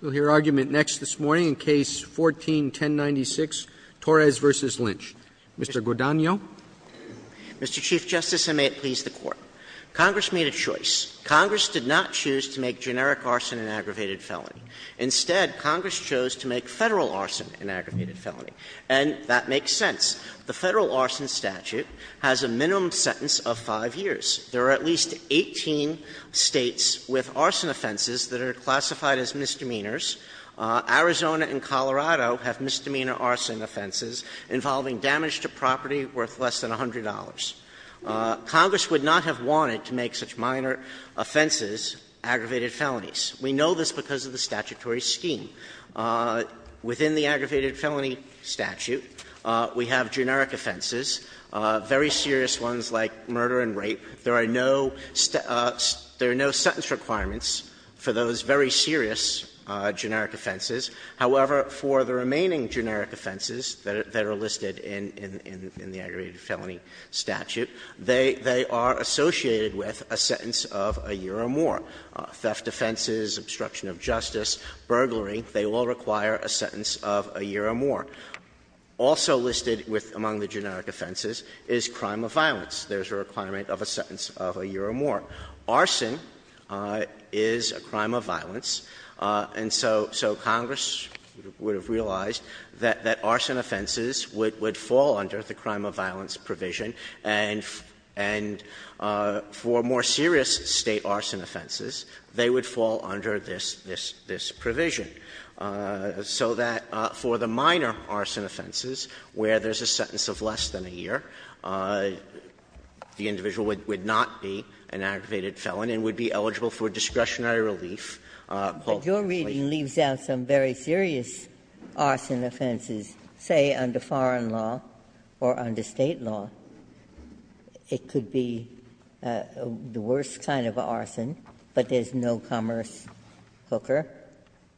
We'll hear argument next this morning in Case 14-1096, Torres v. Lynch. Mr. Guadagno. Mr. Chief Justice, and may it please the Court. Congress made a choice. Congress did not choose to make generic arson an aggravated felony. Instead, Congress chose to make Federal arson an aggravated felony. And that makes sense. The Federal arson statute has a minimum sentence of 5 years. There are at least 18 States with arson offenses that are classified as misdemeanors. Arizona and Colorado have misdemeanor arson offenses involving damage to property worth less than $100. Congress would not have wanted to make such minor offenses aggravated felonies. We know this because of the statutory scheme. Within the aggravated felony statute, we have generic offenses, very serious ones like murder and rape. There are no sentence requirements for those very serious generic offenses. However, for the remaining generic offenses that are listed in the aggravated felony statute, they are associated with a sentence of a year or more. Theft offenses, obstruction of justice, burglary, they all require a sentence of a year or more. Also listed among the generic offenses is crime of violence. There is a requirement of a sentence of a year or more. Arson is a crime of violence. And so Congress would have realized that arson offenses would fall under the crime of violence provision, and for more serious State arson offenses, they would fall under this provision, so that for the minor arson offenses, where there is a sentence of less than a year, the individual would not be an aggravated felon and would be eligible for discretionary relief. Ginsburg. But your reading leaves out some very serious arson offenses, say, under foreign law or under State law. It could be the worst kind of arson, but there is no commerce cooker,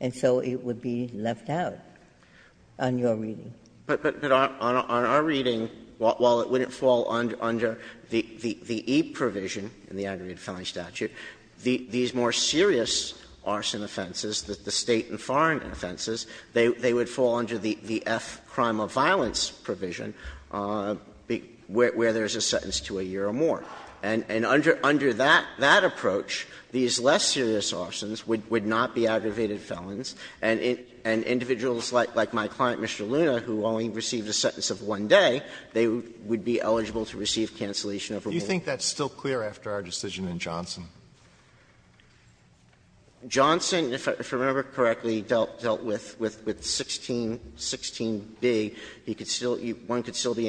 and so it would be left out on your reading. But on our reading, while it wouldn't fall under the E provision in the aggravated felony statute, these more serious arson offenses, the State and foreign offenses, they would fall under the F crime of violence provision, where there is a sentence to a year or more. And under that approach, these less serious arsons would not be aggravated felons, and individuals like my client, Mr. Luna, who only received a sentence of one day, they would be eligible to receive cancellation of a war. Alito Do you think that's still clear after our decision in Johnson? Johnson, if I remember correctly, dealt with 16b. He could still be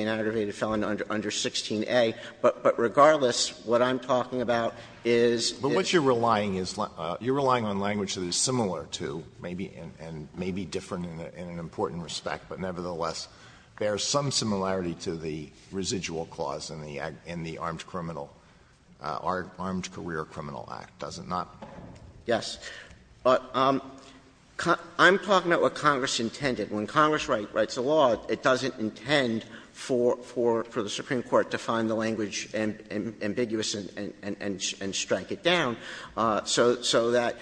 an aggravated felon under 16a. But regardless, what I'm talking about is that But what you're relying is, you're relying on language that is similar to, and maybe different in an important respect, but nevertheless bears some similarity to the residual clause in the Armed Criminal, Armed Career Criminal Act. Does it not? Yes. I'm talking about what Congress intended. When Congress writes a law, it doesn't intend for the Supreme Court to find the language ambiguous and strike it down. So that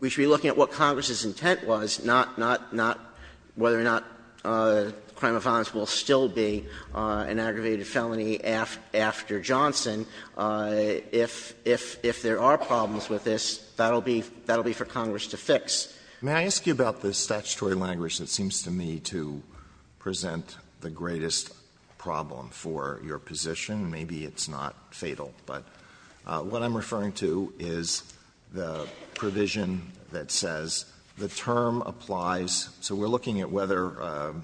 we should be looking at what Congress's intent was, not whether or not crime of violence will still be an aggravated felony after Johnson, if the State and foreign If there are problems with this, that will be for Congress to fix. May I ask you about the statutory language that seems to me to present the greatest problem for your position? Maybe it's not fatal, but what I'm referring to is the provision that says the term applies, so we're looking at whether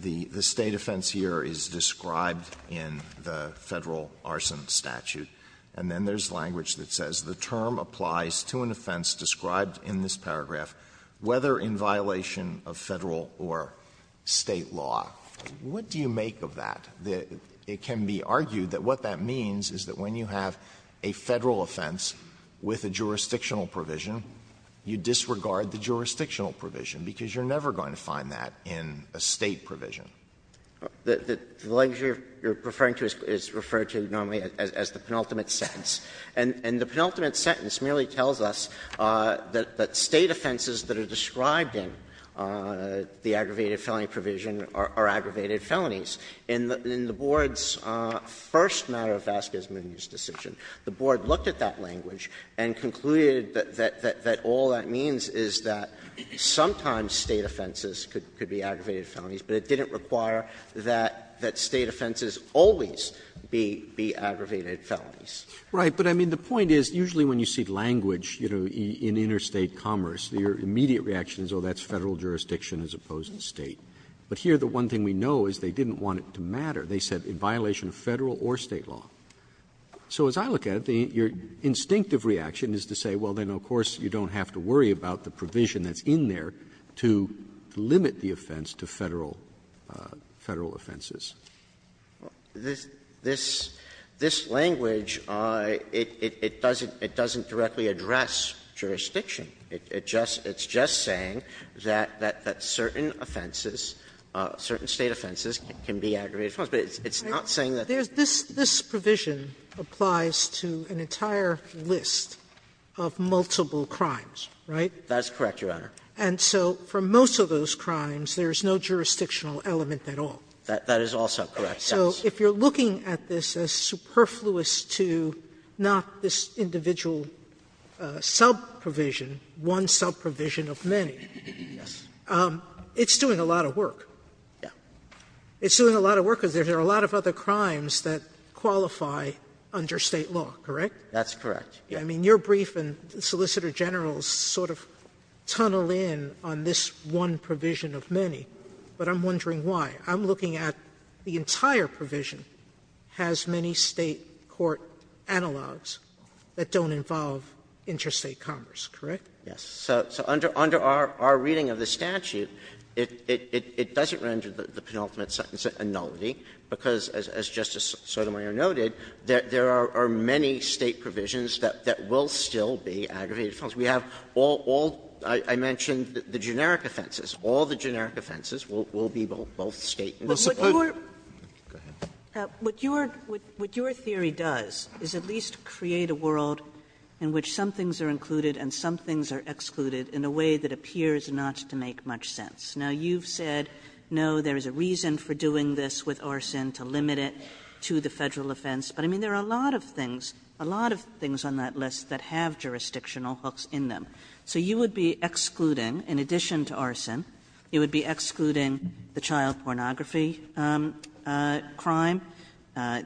the State offense here is described in the Federal Arson Statute, and then there's language that says the term applies to an offense described in this paragraph, whether in violation of Federal or State law. What do you make of that? It can be argued that what that means is that when you have a Federal offense with a jurisdictional provision, you disregard the jurisdictional provision, because you're never going to find that in a State provision. The language you're referring to is referred to normally as the penultimate sentence. And the penultimate sentence merely tells us that State offenses that are described in the aggravated felony provision are aggravated felonies. In the Board's first matter of Vasquez-Munoz decision, the Board looked at that language and concluded that all that means is that sometimes State offenses could be aggravated felonies and require that State offenses always be aggravated felonies. Roberts, but I mean, the point is, usually when you see language, you know, in interstate commerce, your immediate reaction is, oh, that's Federal jurisdiction as opposed to State. But here the one thing we know is they didn't want it to matter. They said in violation of Federal or State law. So as I look at it, your instinctive reaction is to say, well, then of course you don't have to worry about the provision that's in there to limit the offense to Federal Sotomayor, this language, it doesn't directly address jurisdiction. It's just saying that certain offenses, certain State offenses can be aggravated felonies. But it's not saying that there's not. Sotomayor, it's not saying that there's no jurisdiction for those crimes, right? That's correct, Your Honor. And so for most of those crimes, there's no jurisdictional element at all. That is also correct, yes. So if you're looking at this as superfluous to not this individual sub-provision, one sub-provision of many, it's doing a lot of work. Yeah. It's doing a lot of work because there are a lot of other crimes that qualify under State law, correct? That's correct. I mean, your brief and Solicitor General's sort of tunnel in on this one provision of many, but I'm wondering why. I'm looking at the entire provision has many State court analogs that don't involve interstate commerce, correct? Yes. So under our reading of the statute, it doesn't render the penultimate sentence a nullity, because as Justice Sotomayor noted, there are many State provisions that will still be aggravated offenses. We have all the generic offenses. All the generic offenses will be both State and the Supreme Court. What your theory does is at least create a world in which some things are included and some things are excluded in a way that appears not to make much sense. Now, you've said, no, there is a reason for doing this with arson to limit it to the Federal offense. But, I mean, there are a lot of things, a lot of things on that list that have jurisdictional hooks in them. So you would be excluding, in addition to arson, you would be excluding the child pornography crime,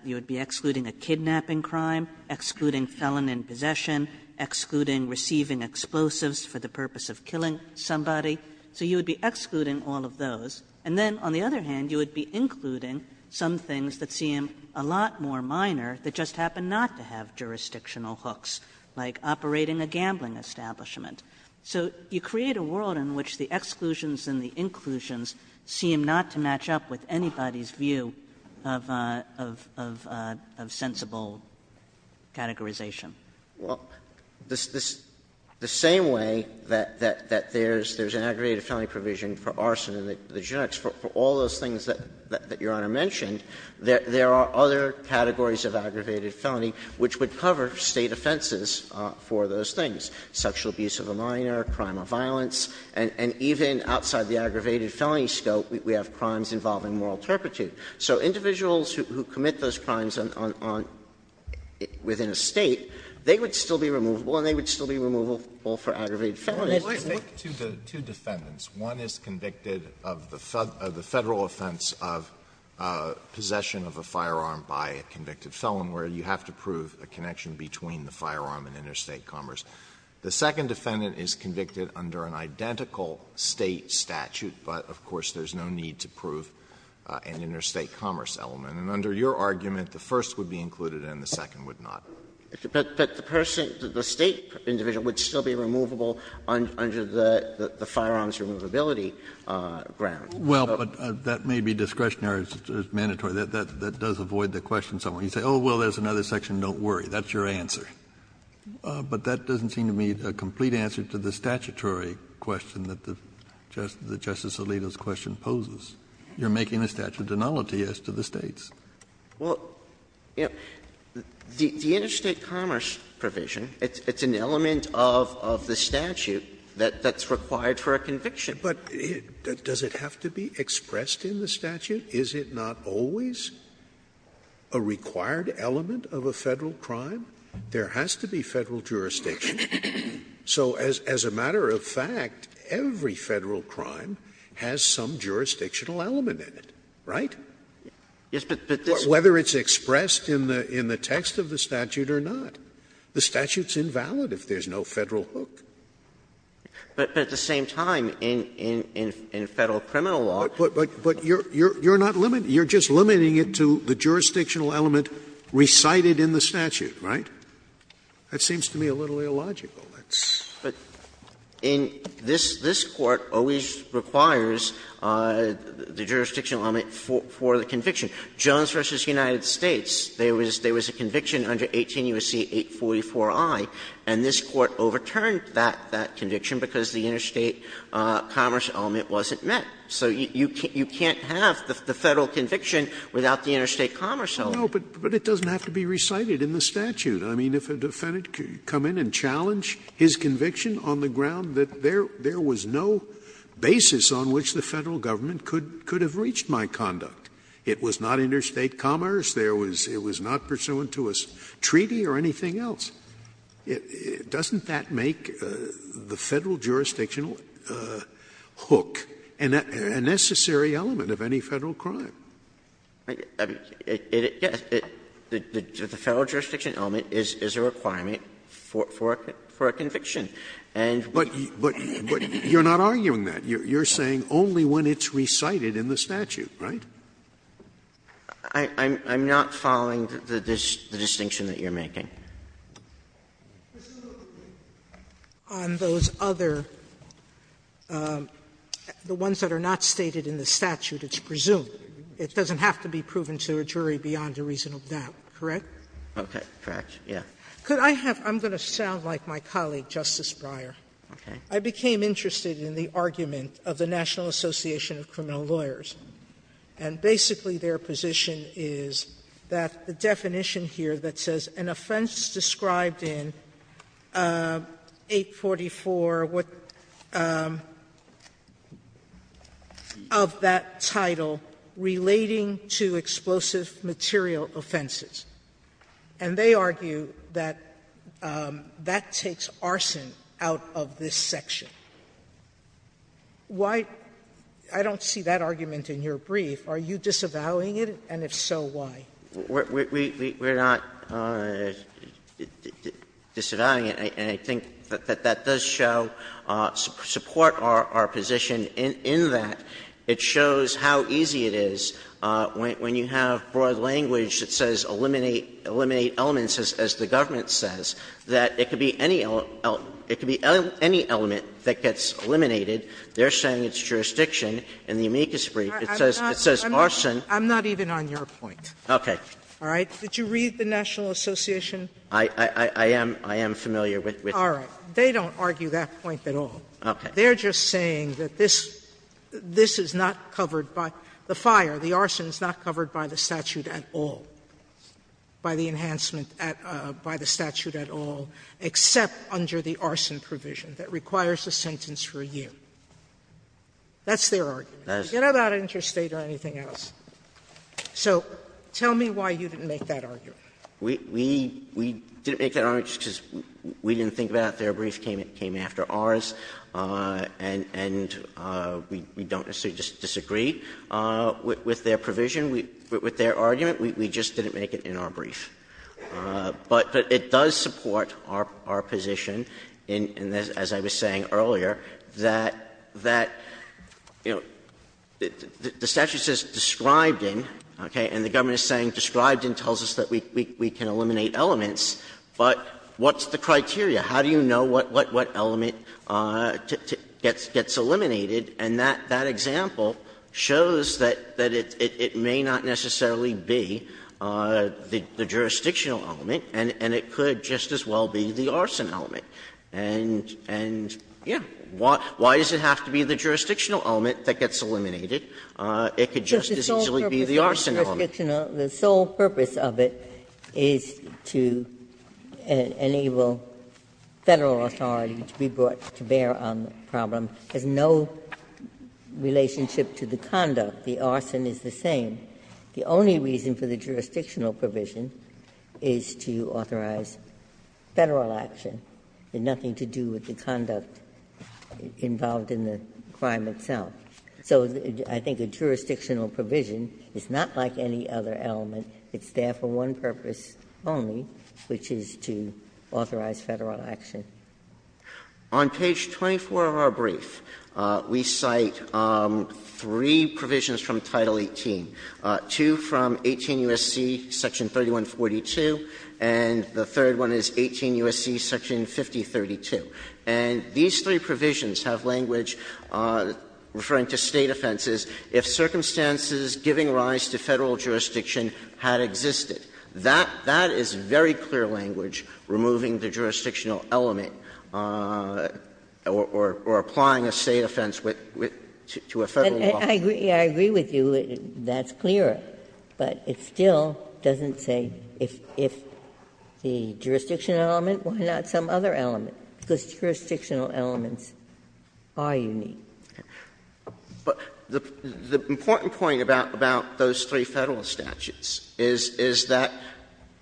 you would be excluding a kidnapping crime, excluding felon in possession, excluding receiving explosives for the purpose of killing somebody. So you would be excluding all of those. And then, on the other hand, you would be including some things that seem a lot more minor that just happen not to have jurisdictional hooks, like operating a gambling establishment. So you create a world in which the exclusions and the inclusions seem not to match up with anybody's view of sensible categorization. Well, the same way that there's an aggravated felony provision for arson and the generics, for all those things that Your Honor mentioned, there are other categories of aggravated felony which would cover State offenses for those things, sexual abuse of a minor, crime of violence. And even outside the aggravated felony scope, we have crimes involving moral turpitude. So individuals who commit those crimes on the state, they would still be removable and they would still be removable for aggravated felonies. Alito, I think to the two defendants, one is convicted of the Federal offense of possession of a firearm by a convicted felon, where you have to prove a connection between the firearm and interstate commerce. The second defendant is convicted under an identical State statute, but, of course, there's no need to prove an interstate commerce element. And under your argument, the first would be included and the second would not. But the person, the State individual would still be removable under the firearms removability ground. Kennedy, but that may be discretionary or mandatory. That does avoid the question somewhat. You say, oh, well, there's another section, don't worry, that's your answer. But that doesn't seem to be a complete answer to the statutory question that the Justice Alito's question poses. You're making a statute of nullity as to the States. Well, you know, the interstate commerce provision, it's an element of the statute that's required for a conviction. But does it have to be expressed in the statute? Is it not always a required element of a Federal crime? There has to be Federal jurisdiction. So as a matter of fact, every Federal crime has some jurisdictional element in it, right? Whether it's expressed in the text of the statute or not. The statute's invalid if there's no Federal hook. But at the same time, in Federal criminal law. But you're not limiting it. You're just limiting it to the jurisdictional element recited in the statute, right? That seems to me a little illogical. But in this Court always requires the jurisdictional element for the conviction. Jones v. United States, there was a conviction under 18 U.S.C. 844i, and this Court overturned that conviction because the interstate commerce element wasn't met. So you can't have the Federal conviction without the interstate commerce element. No, but it doesn't have to be recited in the statute. I mean, if a defendant could come in and challenge his conviction on the ground that there was no basis on which the Federal government could have reached my conduct, it was not interstate commerce, it was not pursuant to a treaty or anything else, doesn't that make the Federal jurisdictional hook a necessary element of any Federal crime? I mean, yes, the Federal jurisdictional element is a requirement for a conviction. And what you're not arguing that. You're saying only when it's recited in the statute, right? I'm not following the distinction that you're making. Sotomayor on those other, the ones that are not stated in the statute, it's presumed it doesn't have to be proven to a jury beyond a reasonable doubt, correct? Okay. Correct, yes. Could I have my colleague, Justice Breyer. Okay. I became interested in the argument of the National Association of Criminal Lawyers, and basically their position is that the definition here that says an offense relating to explosive material offenses, and they argue that that takes arson out of this section. Why — I don't see that argument in your brief. Are you disavowing it? And if so, why? We're not disavowing it, and I think that that does show, support our position in that, it shows how easy it is when you have broad language that says eliminate elements, as the government says, that it could be any element that gets eliminated. They're saying it's jurisdiction. In the amicus brief, it says arson. I'm not even on your point. Okay. All right? Did you read the National Association? I am familiar with it. All right. They don't argue that point at all. Okay. They're just saying that this — this is not covered by the fire, the arson is not covered by the statute at all, by the enhancement at — by the statute at all, except under the arson provision that requires a sentence for a year. That's their argument. That is their argument. Forget about interstate or anything else. So tell me why you didn't make that argument. We — we didn't make that argument just because we didn't think about it. Their brief came after ours. And — and we don't necessarily disagree with their provision. With their argument, we just didn't make it in our brief. But it does support our position in this, as I was saying earlier, that — that, you know, the statute says described in, okay, and the government is saying described in tells us that we can eliminate elements, but what's the criteria? How do you know what — what element gets eliminated? And that example shows that it may not necessarily be the jurisdictional element, and it could just as well be the arson element. And, yeah, why does it have to be the jurisdictional element that gets eliminated? It could just as easily be the arson element. The jurisdictional — the sole purpose of it is to enable Federal authority to be brought to bear on the problem. It has no relationship to the conduct. The arson is the same. The only reason for the jurisdictional provision is to authorize Federal action. It had nothing to do with the conduct involved in the crime itself. So I think a jurisdictional provision is not like any other element. It's there for one purpose only, which is to authorize Federal action. On page 24 of our brief, we cite three provisions from Title 18, two from 18 U.S.C. section 3142, and the third one is 18 U.S.C. section 5032. And these three provisions have language referring to State offenses, if circumstances giving rise to Federal jurisdiction had existed. That — that is very clear language, removing the jurisdictional element or — or applying a State offense with — to a Federal law firm. Ginsburg, I agree with you, that's clear, but it still doesn't say if the jurisdictional element, why not some other element? Because jurisdictional elements are unique. Sotomayor, but the important point about those three Federal statutes is that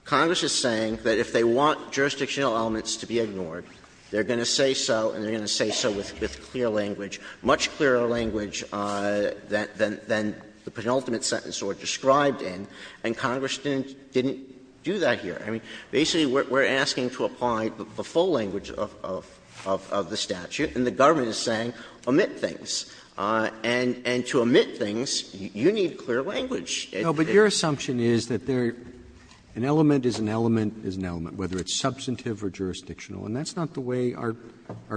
Congress is saying that if they want jurisdictional elements to be ignored, they're going to say so and they're going to say so with clear language, much clearer language than the penultimate sentence or described in, and Congress didn't do that here. I mean, basically, we're asking to apply the full language of the statute, and the government is saying omit things. And to omit things, you need clear language. Roberts, No, but your assumption is that there — an element is an element is an element, whether it's substantive or jurisdictional, and that's not the way our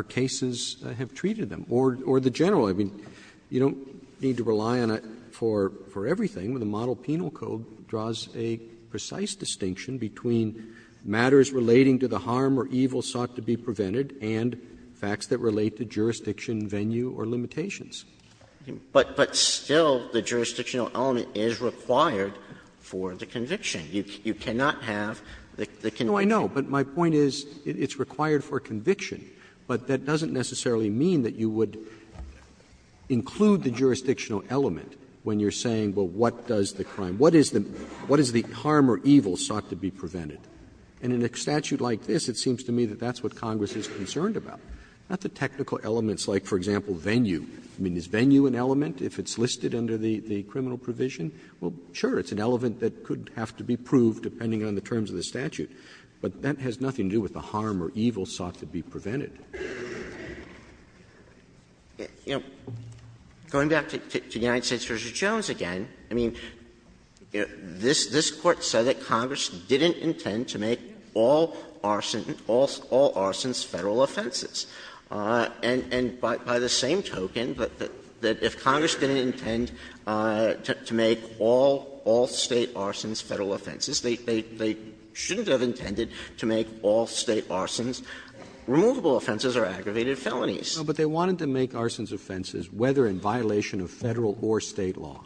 cases have treated them, or the general. I mean, you don't need to rely on it for everything. The Model Penal Code draws a precise distinction between matters relating to the harm or evil sought to be prevented and facts that relate to jurisdiction venue or limitations. But still, the jurisdictional element is required for the conviction. You cannot have the conviction. No, I know, but my point is it's required for conviction, but that doesn't necessarily mean that you would include the jurisdictional element when you're saying, well, what does the crime — what is the harm or evil sought to be prevented? And in a statute like this, it seems to me that that's what Congress is concerned about, not the technical elements like, for example, venue. I mean, is venue an element if it's listed under the criminal provision? Well, sure, it's an element that could have to be proved depending on the terms of the statute, but that has nothing to do with the harm or evil sought to be prevented. You know, going back to the United States v. Jones again, I mean, this Court said that Congress didn't intend to make all arson — all arsons Federal offenses. And by the same token, that if Congress didn't intend to make all State arsons Federal offenses, they shouldn't have intended to make all State arsons removable offenses or aggravated felonies. Roberts. But they wanted to make arsons offenses whether in violation of Federal or State law.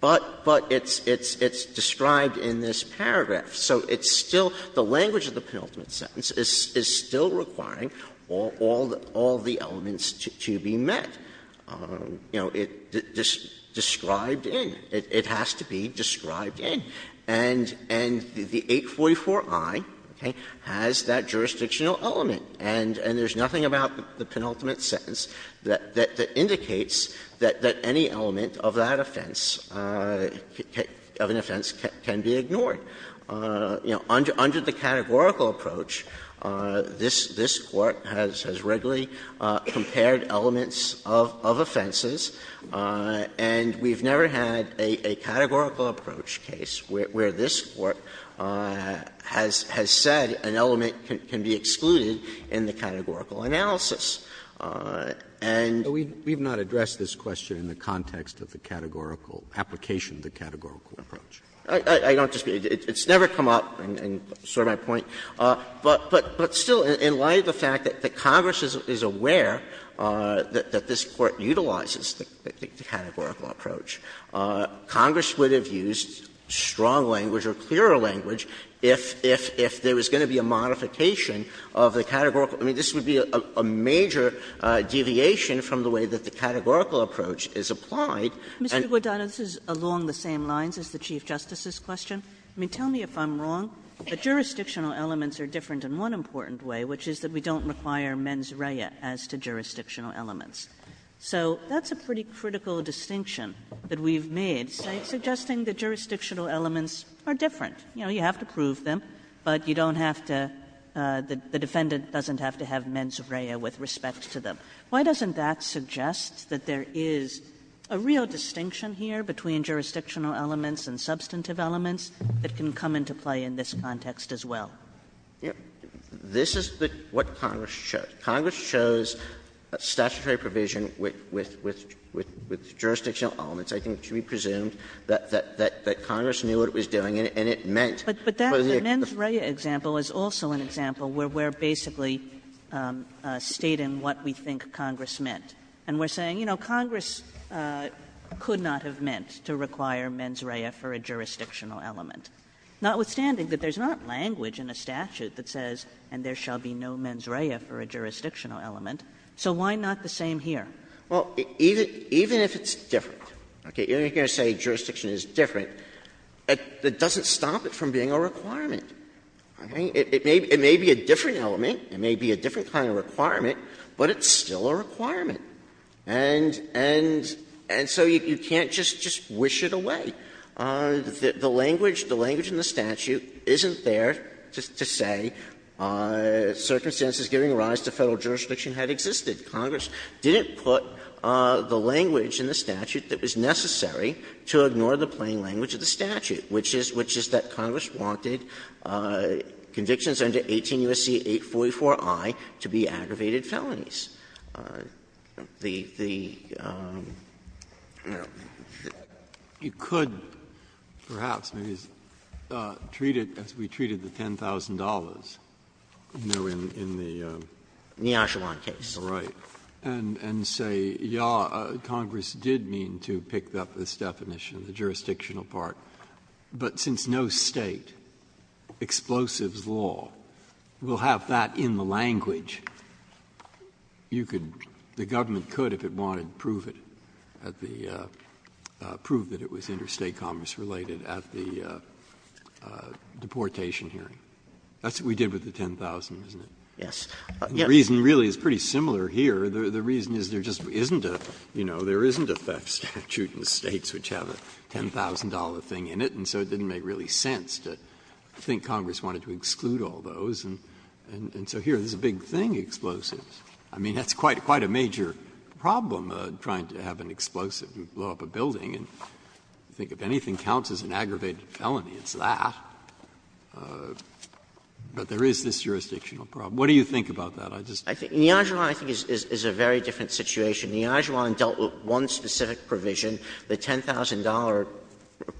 But it's described in this paragraph, so it's still — the language of the penultimate sentence is still requiring all the elements to be met. You know, it's described in. It has to be described in. And the 844i has that jurisdictional element, and there's nothing about the penultimate sentence that indicates that any element of that offense, of an offense, can be ignored. You know, under the categorical approach, this Court has regularly compared elements of offenses, and we've never had a categorical approach case where this Court has said an element can be excluded in the categorical analysis. And we've not addressed this question in the context of the categorical application of the categorical approach. I don't disagree. It's never come up in sort of my point. But still, in light of the fact that Congress is aware that this Court utilizes the categorical approach, Congress would have used strong language or clearer language if there was going to be a modification of the categorical. I mean, this would be a major deviation from the way that the categorical approach And the way that the categorical approach is applied, and— Kagan. Mr. Guadagno, this is along the same lines as the Chief Justice's question. I mean, tell me if I'm wrong. The jurisdictional elements are different in one important way, which is that we don't require mens rea as to jurisdictional elements. So that's a pretty critical distinction that we've made, suggesting that jurisdictional elements are different. You know, you have to prove them, but you don't have to — the defendant doesn't have to have mens rea with respect to them. Why doesn't that suggest that there is a real distinction here between jurisdictional elements and substantive elements that can come into play in this context as well? Guadagno, this is what Congress chose. Congress chose statutory provision with jurisdictional elements, I think it should be presumed, that Congress knew what it was doing, and it meant— But that mens rea example is also an example where we're basically stating what we think Congress meant. And we're saying, you know, Congress could not have meant to require mens rea for a jurisdictional element, notwithstanding that there's not language in a statute that says, and there shall be no mens rea for a jurisdictional element, so why not the same here? Well, even if it's different, okay, you're going to say jurisdiction is different. It doesn't stop it from being a requirement. It may be a different element, it may be a different kind of requirement, but it's still a requirement. And so you can't just wish it away. The language in the statute isn't there to say circumstances giving rise to Federal jurisdiction had existed. Congress didn't put the language in the statute that was necessary to ignore the plain language of the statute, which is that Congress wanted convictions under 18 U.S.C. 844i to be aggravated felonies. The, the, I don't know, you could, perhaps, maybe treat it as we treated the $10,000 in the, in the, in the Ashawan case, right, and say, yeah, Congress did mean to pick up this definition, the jurisdictional part, but since no State explosives law will have that in the language, you could, the government could, if it wanted to prove it at the, prove that it was interstate commerce related at the deportation hearing. That's what we did with the $10,000, isn't it? Yes. The reason really is pretty similar here. The reason is there just isn't a, you know, there isn't a theft statute in the States which have a $10,000 thing in it, and so it didn't make really sense to think Congress wanted to exclude all those, and, and so here, there's a big thing, explosives. I mean, that's quite, quite a major problem, trying to have an explosive blow up a building. And I think if anything counts as an aggravated felony, it's that. But there is this jurisdictional problem. What do you think about that? I just. I think, in the Ashawan, I think, is, is a very different situation. In the Ashawan, it dealt with one specific provision. The $10,000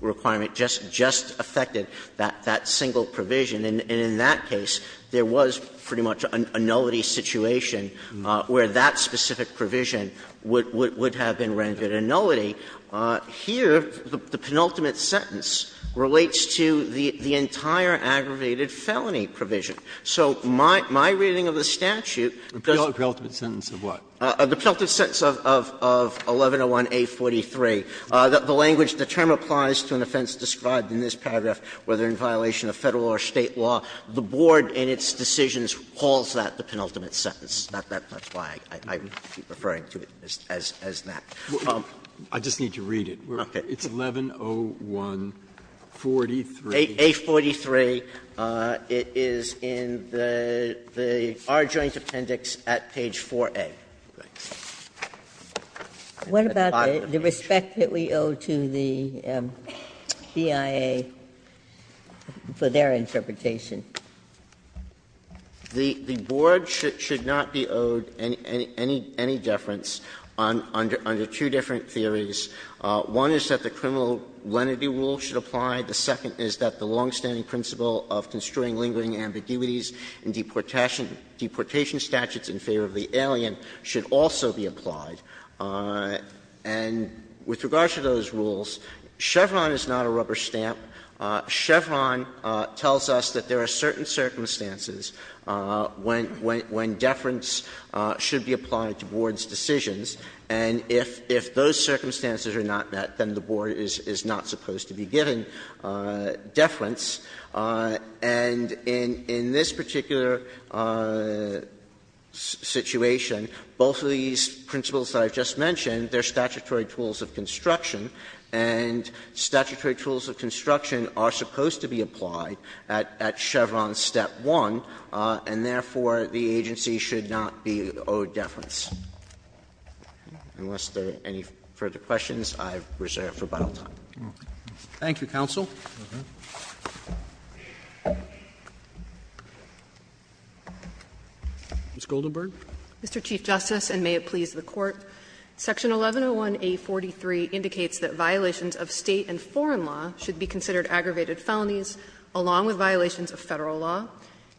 requirement just, just affected that, that single provision. And in that case, there was pretty much a nullity situation where that specific provision would, would, would have been rendered a nullity. Here, the penultimate sentence relates to the, the entire aggravated felony provision. So my, my reading of the statute does. The penultimate sentence of what? The penultimate sentence of, of, of 1101A43, the language, the term applies to an offense described in this paragraph, whether in violation of Federal or State law. The board, in its decisions, calls that the penultimate sentence. Not that much why I, I, I would keep referring to it as, as, as that. Breyer, I just need to read it. Okay. It's 1101A43. It is in the, the, our joint appendix at page 4A. Ginsburg. What about the respect that we owe to the BIA for their interpretation? The, the board should, should not be owed any, any, any deference on, under, under two different theories. One is that the criminal lenity rule should apply. The second is that the longstanding principle of construing lingering ambiguities in deportation, deportation statutes in favor of the alien should also be applied. And with regards to those rules, Chevron is not a rubber stamp. Chevron tells us that there are certain circumstances when, when, when deference should be applied to boards' decisions, and if, if those circumstances are not met, then the board is, is not supposed to be given deference. And in, in this particular situation, both of these principles that I've just mentioned, they're statutory tools of construction, and statutory tools of construction are supposed to be applied at, at Chevron step one, and therefore, the agency should not be owed deference. Unless there are any further questions, I've reserved for about all time. Roberts. Thank you, counsel. Ms. Goldenberg. Mr. Chief Justice, and may it please the Court. Section 1101A.43 indicates that violations of State and foreign law should be considered aggravated felonies, along with violations of Federal law.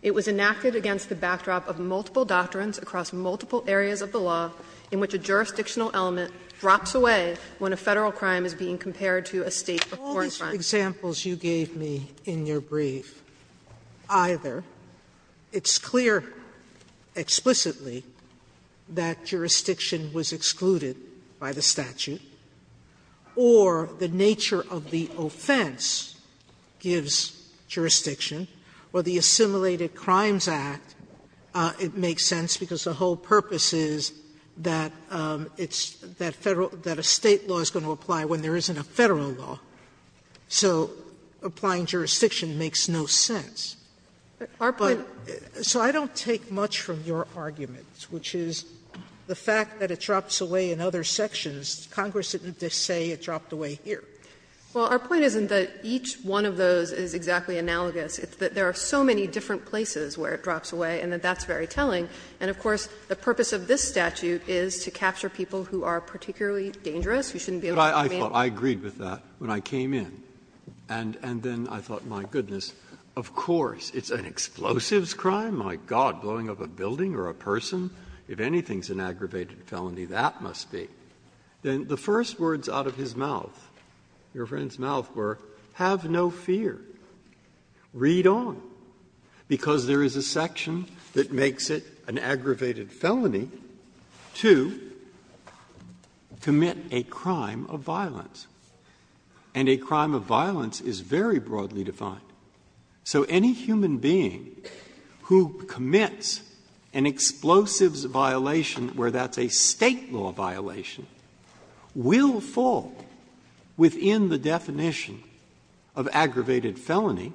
It was enacted against the backdrop of multiple doctrines across multiple areas of the law in which a jurisdictional element drops away when a Federal crime is being compared to a State or foreign crime. Sotomayor, all these examples you gave me in your brief, either it's clear explicitly that jurisdiction was excluded by the statute, or the nature of the offense gives jurisdiction, or the Assimilated Crimes Act, it makes sense because the whole purpose is that it's, that Federal, that a State law is going to apply when there isn't a Federal law. So applying jurisdiction makes no sense. But, so I don't take much from your argument, which is the fact that it drops away in other sections. Congress didn't just say it dropped away here. Well, our point isn't that each one of those is exactly analogous. It's that there are so many different places where it drops away and that that's very telling. And, of course, the purpose of this statute is to capture people who are particularly dangerous, who shouldn't be able to come in. Breyer, I thought, I agreed with that when I came in. And then I thought, my goodness, of course, it's an explosives crime? My God, blowing up a building or a person? If anything's an aggravated felony, that must be. Then the first words out of his mouth, your friend's mouth, were, have no fear. Read on. Because there is a section that makes it an aggravated felony to commit a crime of violence. And a crime of violence is very broadly defined. So any human being who commits an explosives violation where that's a State law violation will fall within the definition of aggravated felony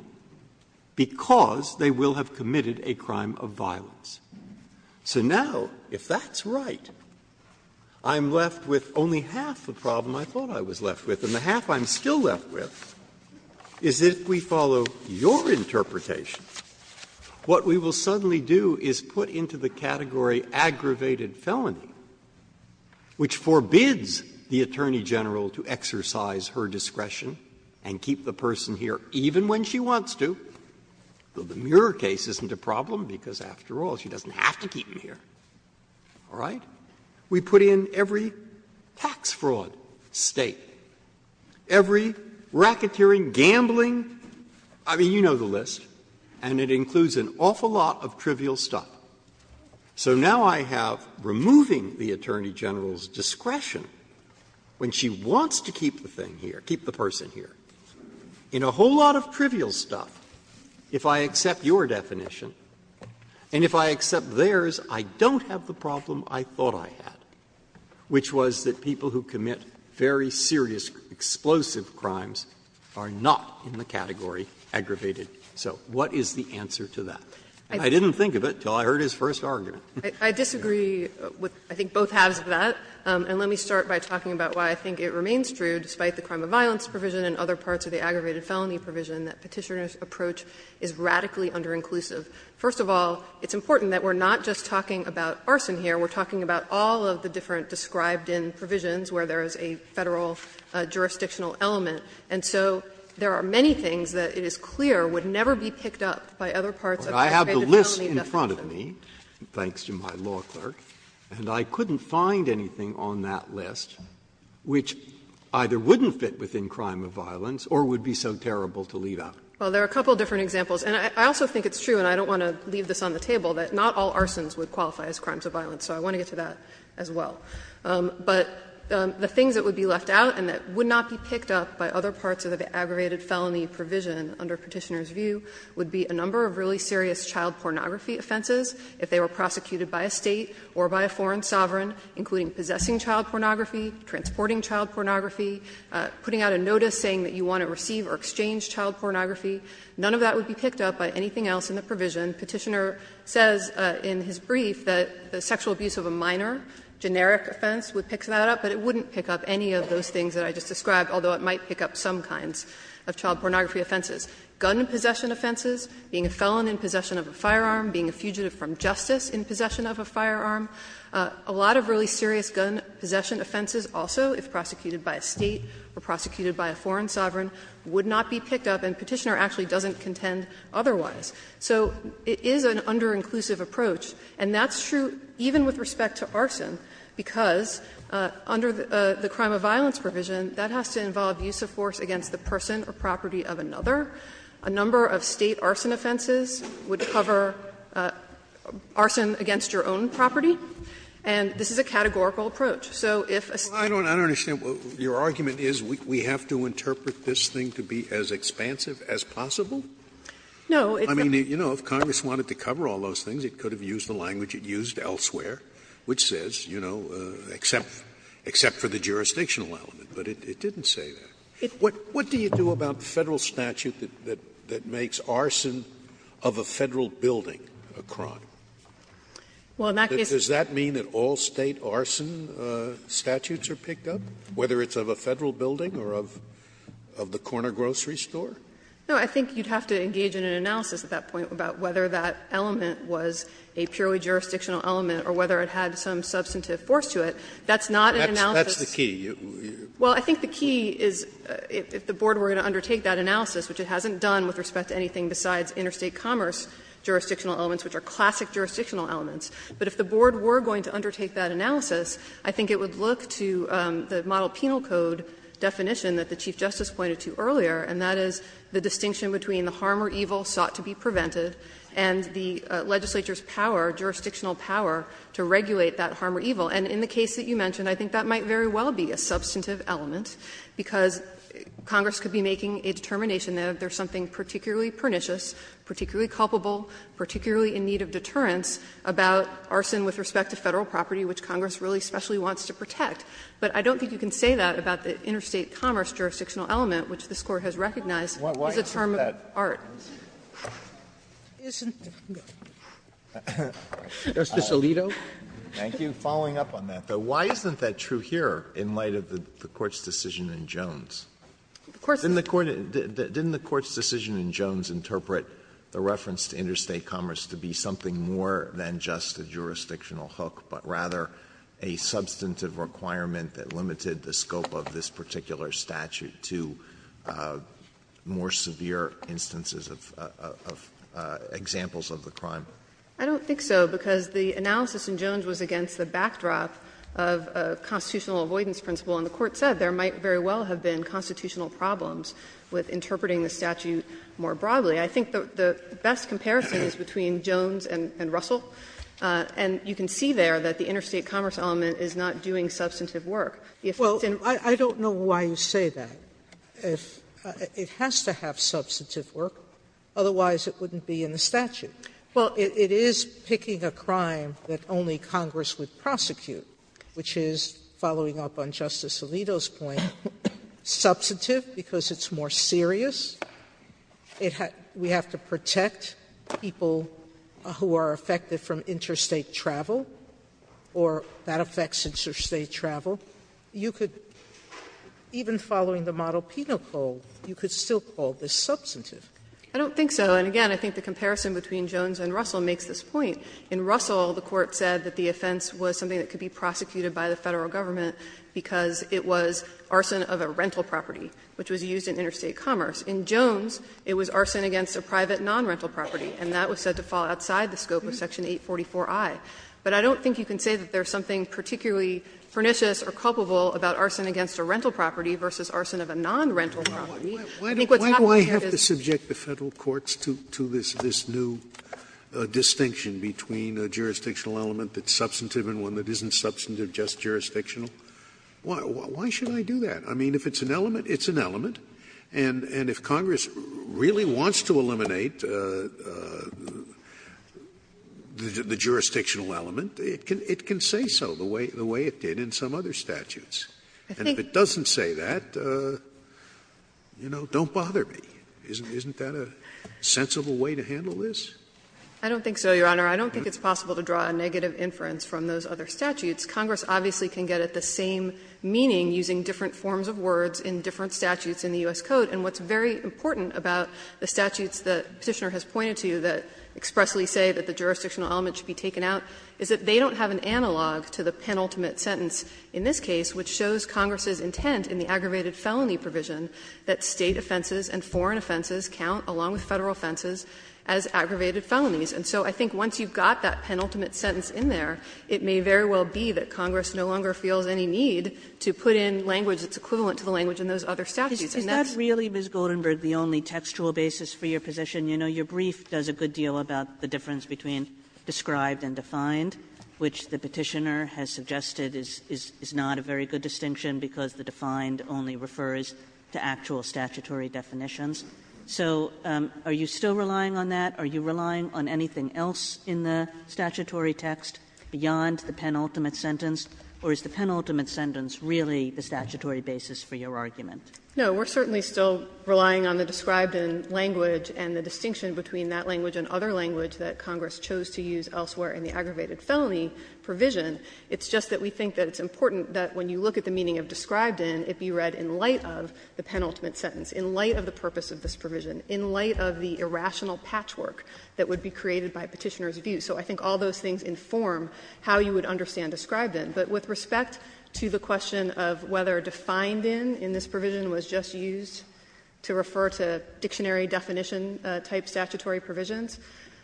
because they will have committed a crime of violence. So now, if that's right, I'm left with only half the problem I thought I was left with, and the half I'm still left with is if we follow your interpretation, what we will suddenly do is put into the category aggravated felony, which for a crime of violence forbids the Attorney General to exercise her discretion and keep the person here even when she wants to, but the Muir case isn't a problem because, after all, she doesn't have to keep him here, all right? We put in every tax fraud, State, every racketeering, gambling, I mean, you know the list, and it includes an awful lot of trivial stuff. So now I have, removing the Attorney General's discretion when she wants to keep the thing here, keep the person here, in a whole lot of trivial stuff, if I accept your definition, and if I accept theirs, I don't have the problem I thought I had, which was that people who commit very serious explosive crimes are not in the category aggravated. So what is the answer to that? And I didn't think of it until I heard his first argument. I disagree with I think both halves of that. And let me start by talking about why I think it remains true, despite the crime of violence provision and other parts of the aggravated felony provision, that Petitioner's approach is radically underinclusive. First of all, it's important that we're not just talking about arson here. We're talking about all of the different described-in provisions where there is a Federal jurisdictional element. And so there are many things that it is clear would never be picked up by other parts of the aggravated felony definition. Breyer, I have the list in front of me, thanks to my law clerk, and I couldn't find anything on that list which either wouldn't fit within crime of violence or would be so terrible to leave out. Well, there are a couple of different examples. And I also think it's true, and I don't want to leave this on the table, that not all arsons would qualify as crimes of violence. So I want to get to that as well. But the things that would be left out and that would not be picked up by other parts of the aggravated felony provision under Petitioner's view would be a number of really serious child pornography offenses, if they were prosecuted by a State or by a foreign sovereign, including possessing child pornography, transporting child pornography, putting out a notice saying that you want to receive or exchange child pornography. None of that would be picked up by anything else in the provision. Petitioner says in his brief that the sexual abuse of a minor, generic offense, would pick that up, but it wouldn't pick up any of those things that I just described, although it might pick up some kinds of child pornography offenses. Gun possession offenses, being a felon in possession of a firearm, being a fugitive from justice in possession of a firearm, a lot of really serious gun possession offenses also, if prosecuted by a State or prosecuted by a foreign sovereign, would not be picked up, and Petitioner actually doesn't contend otherwise. So it is an under-inclusive approach, and that's true even with respect to arson, because under the crime of violence provision, that has to involve use of force against the person or property of another. A number of State arson offenses would cover arson against your own property, and this is a categorical approach. So if a State or a foreign sovereign would not be picked up, it would not be picked up. Sotomayor's argument is we have to interpret this thing to be as expansive as possible? I mean, you know, if Congress wanted to cover all those things, it could have used the language it used elsewhere, which says, you know, except for the jurisdictional element, but it didn't say that. What do you do about the Federal statute that makes arson of a Federal building a crime? Does that mean that all State arson statutes are picked up, whether it's of a Federal building or of the corner grocery store? No, I think you would have to engage in an analysis at that point about whether that element was a purely jurisdictional element or whether it had some substantive force to it. That's not an analysis. That's the key. Well, I think the key is if the board were going to undertake that analysis, which it hasn't done with respect to anything besides interstate commerce jurisdictional elements, which are classic jurisdictional elements, but if the board were going to undertake that analysis, I think it would look to the model penal code definition that the Chief Justice pointed to earlier, and that is the distinction between the harm or evil sought to be prevented and the legislature's power, jurisdictional power, to regulate that harm or evil. And in the case that you mentioned, I think that might very well be a substantive element, because Congress could be making a determination that if there's something particularly pernicious, particularly culpable, particularly in need of deterrence about arson with respect to Federal property, which Congress really especially wants to protect. But I don't think you can say that about the interstate commerce jurisdictional element, which this Court has recognized is a term of art. Sotomayor, why isn't that true here in light of the Court's decision in Jones? Didn't the Court's decision in Jones interpret the reference to interstate commerce to be something more than just a jurisdictional hook, but rather a substantive requirement that limited the scope of this particular statute to more severe instances of examples of the crime? I don't think so, because the analysis in Jones was against the backdrop of a constitutional avoidance principle, and the Court said there might very well have been constitutional problems with interpreting the statute more broadly. I think the best comparison is between Jones and Russell, and you can see there that the interstate commerce element is not doing substantive work. The effect in the statute is that the interstate commerce element is not doing substantive work. Otherwise, it wouldn't be in the statute. Well, it is picking a crime that only Congress would prosecute, which is, following up on Justice Alito's point, substantive because it's more serious. We have to protect people who are affected from interstate travel, or that affects interstate travel. You could, even following the model Penal Code, you could still call this substantive. I don't think so. And again, I think the comparison between Jones and Russell makes this point. In Russell, the Court said that the offense was something that could be prosecuted by the Federal government because it was arson of a rental property, which was used in interstate commerce. In Jones, it was arson against a private non-rental property, and that was said to fall outside the scope of section 844i. But I don't think you can say that there is something particularly pernicious or culpable about arson against a rental property versus arson of a non-rental property. I think what's happening here is. Scalia Why do I have to subject the Federal courts to this new distinction between a jurisdictional element that's substantive and one that isn't substantive, just jurisdictional? Why should I do that? I mean, if it's an element, it's an element. And if Congress really wants to eliminate the jurisdictional element, it can say so the way it did in some other statutes. And if it doesn't say that, you know, don't bother me. Isn't that a sensible way to handle this? I don't think so, Your Honor. I don't think it's possible to draw a negative inference from those other statutes. Congress obviously can get at the same meaning using different forms of words in different statutes in the U.S. Code. And what's very important about the statutes the Petitioner has pointed to that expressly say that the jurisdictional element should be taken out is that they don't have an element that shows Congress's intent in the aggravated felony provision that State offenses and foreign offenses count, along with Federal offenses, as aggravated felonies. And so I think once you've got that penultimate sentence in there, it may very well be that Congress no longer feels any need to put in language that's equivalent to the language in those other statutes. And that's the only textual basis for your position. You know, your brief does a good deal about the difference between described and defined, which the Petitioner has suggested is not a very good distinction, because the defined only refers to actual statutory definitions. So are you still relying on that? Are you relying on anything else in the statutory text beyond the penultimate sentence? Or is the penultimate sentence really the statutory basis for your argument? No, we're certainly still relying on the described language and the distinction between that language and other language that Congress chose to use elsewhere in the aggravated felony provision. It's just that we think that it's important that when you look at the meaning of described in, it be read in light of the penultimate sentence, in light of the purpose of this provision, in light of the irrational patchwork that would be created by Petitioner's view. So I think all those things inform how you would understand described in. But with respect to the question of whether defined in, in this provision, was just used to refer to dictionary-definition-type statutory provisions,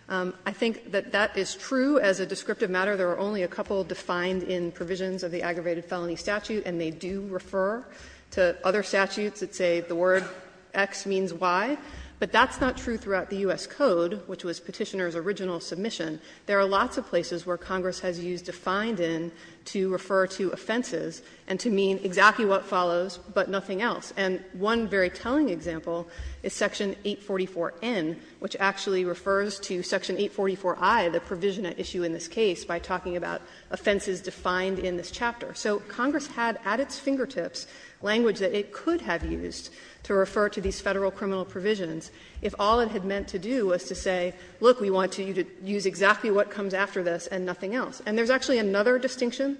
I think that that is true as a descriptive matter. There are only a couple defined in provisions of the aggravated felony statute, and they do refer to other statutes that say the word X means Y. But that's not true throughout the U.S. Code, which was Petitioner's original submission. There are lots of places where Congress has used defined in to refer to offenses and to mean exactly what follows, but nothing else. And one very telling example is Section 844N, which actually refers to Section 844I, the provision at issue in this case, by talking about offenses defined in this chapter. So Congress had at its fingertips language that it could have used to refer to these Federal criminal provisions if all it had meant to do was to say, look, we want you to use exactly what comes after this and nothing else. And there's actually another distinction,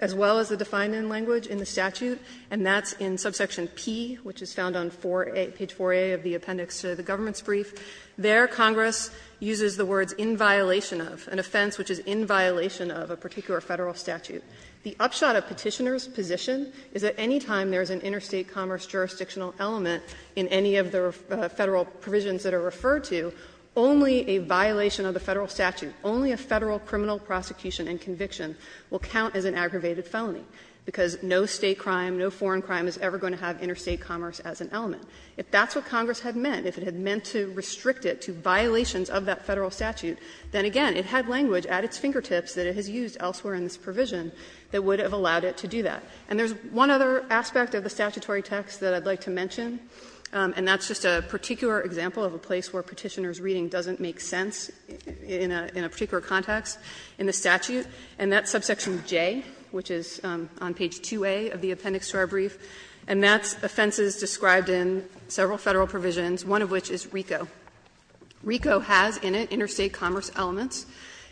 as well as the defined in language, in the statute, and that's in subsection P, which is found on 4A, page 4A of the appendix to the government's brief. There, Congress uses the words "--in violation of"-- an offense which is in violation of a particular Federal statute. The upshot of Petitioner's position is that any time there is an interstate commerce jurisdictional element in any of the Federal provisions that are referred to, only a violation of the Federal statute, only a Federal criminal prosecution and conviction will count as an aggravated felony, because no State crime, no foreign crime is ever going to have interstate commerce as an element. If that's what Congress had meant, if it had meant to restrict it to violations of that Federal statute, then again, it had language at its fingertips that it has used elsewhere in this provision that would have allowed it to do that. And there's one other aspect of the statutory text that I'd like to mention, and that's just a particular example of a place where Petitioner's reading doesn't make sense in a particular context. In the statute, and that's subsection J, which is on page 2A of the appendix to our brief, and that's offenses described in several Federal provisions, one of which is RICO. RICO has in it interstate commerce elements.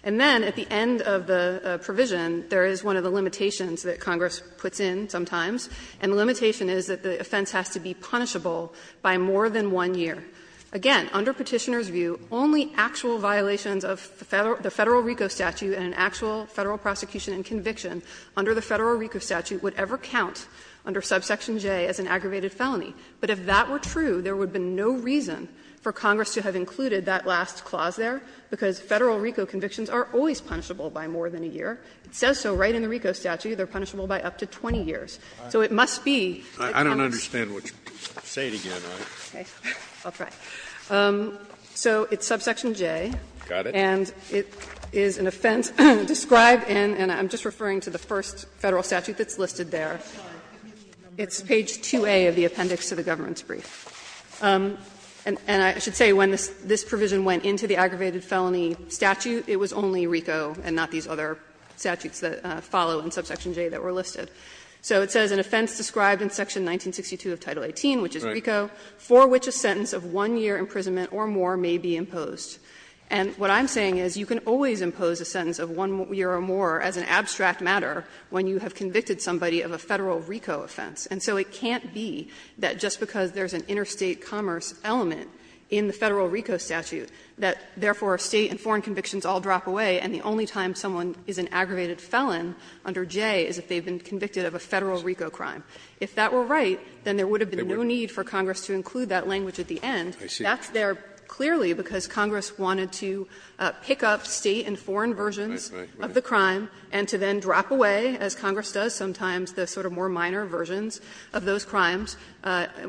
And then at the end of the provision, there is one of the limitations that Congress puts in sometimes, and the limitation is that the offense has to be punishable by more than one year. Again, under Petitioner's view, only actual violations of the Federal RICO statute and an actual Federal prosecution and conviction under the Federal RICO statute would ever count under subsection J as an aggravated felony. But if that were true, there would be no reason for Congress to have included that last clause there, because Federal RICO convictions are always punishable by more than a year. It says so right in the RICO statute, they're punishable by up to 20 years. So it must be that Congress. Scalia, I don't understand what you're saying again. I'll try. So it's subsection J. Got it. And it is an offense described in, and I'm just referring to the first Federal statute that's listed there. It's page 2A of the appendix to the government's brief. And I should say when this provision went into the aggravated felony statute, it was only RICO and not these other statutes that follow in subsection J that were listed. So it says an offense described in section 1962 of Title 18, which is RICO, for which a sentence of one year imprisonment or more may be imposed. And what I'm saying is you can always impose a sentence of one year or more as an abstract matter when you have convicted somebody of a Federal RICO offense. And so it can't be that just because there's an interstate commerce element in the Federal RICO statute that, therefore, state and foreign convictions all drop away and the only time someone is an aggravated felon under J is if they've been convicted of a Federal RICO crime. If that were right, then there would have been no need for Congress to include that language at the end. That's there clearly because Congress wanted to pick up state and foreign versions of the crime and to then drop away, as Congress does sometimes, the sort of more minor versions of those crimes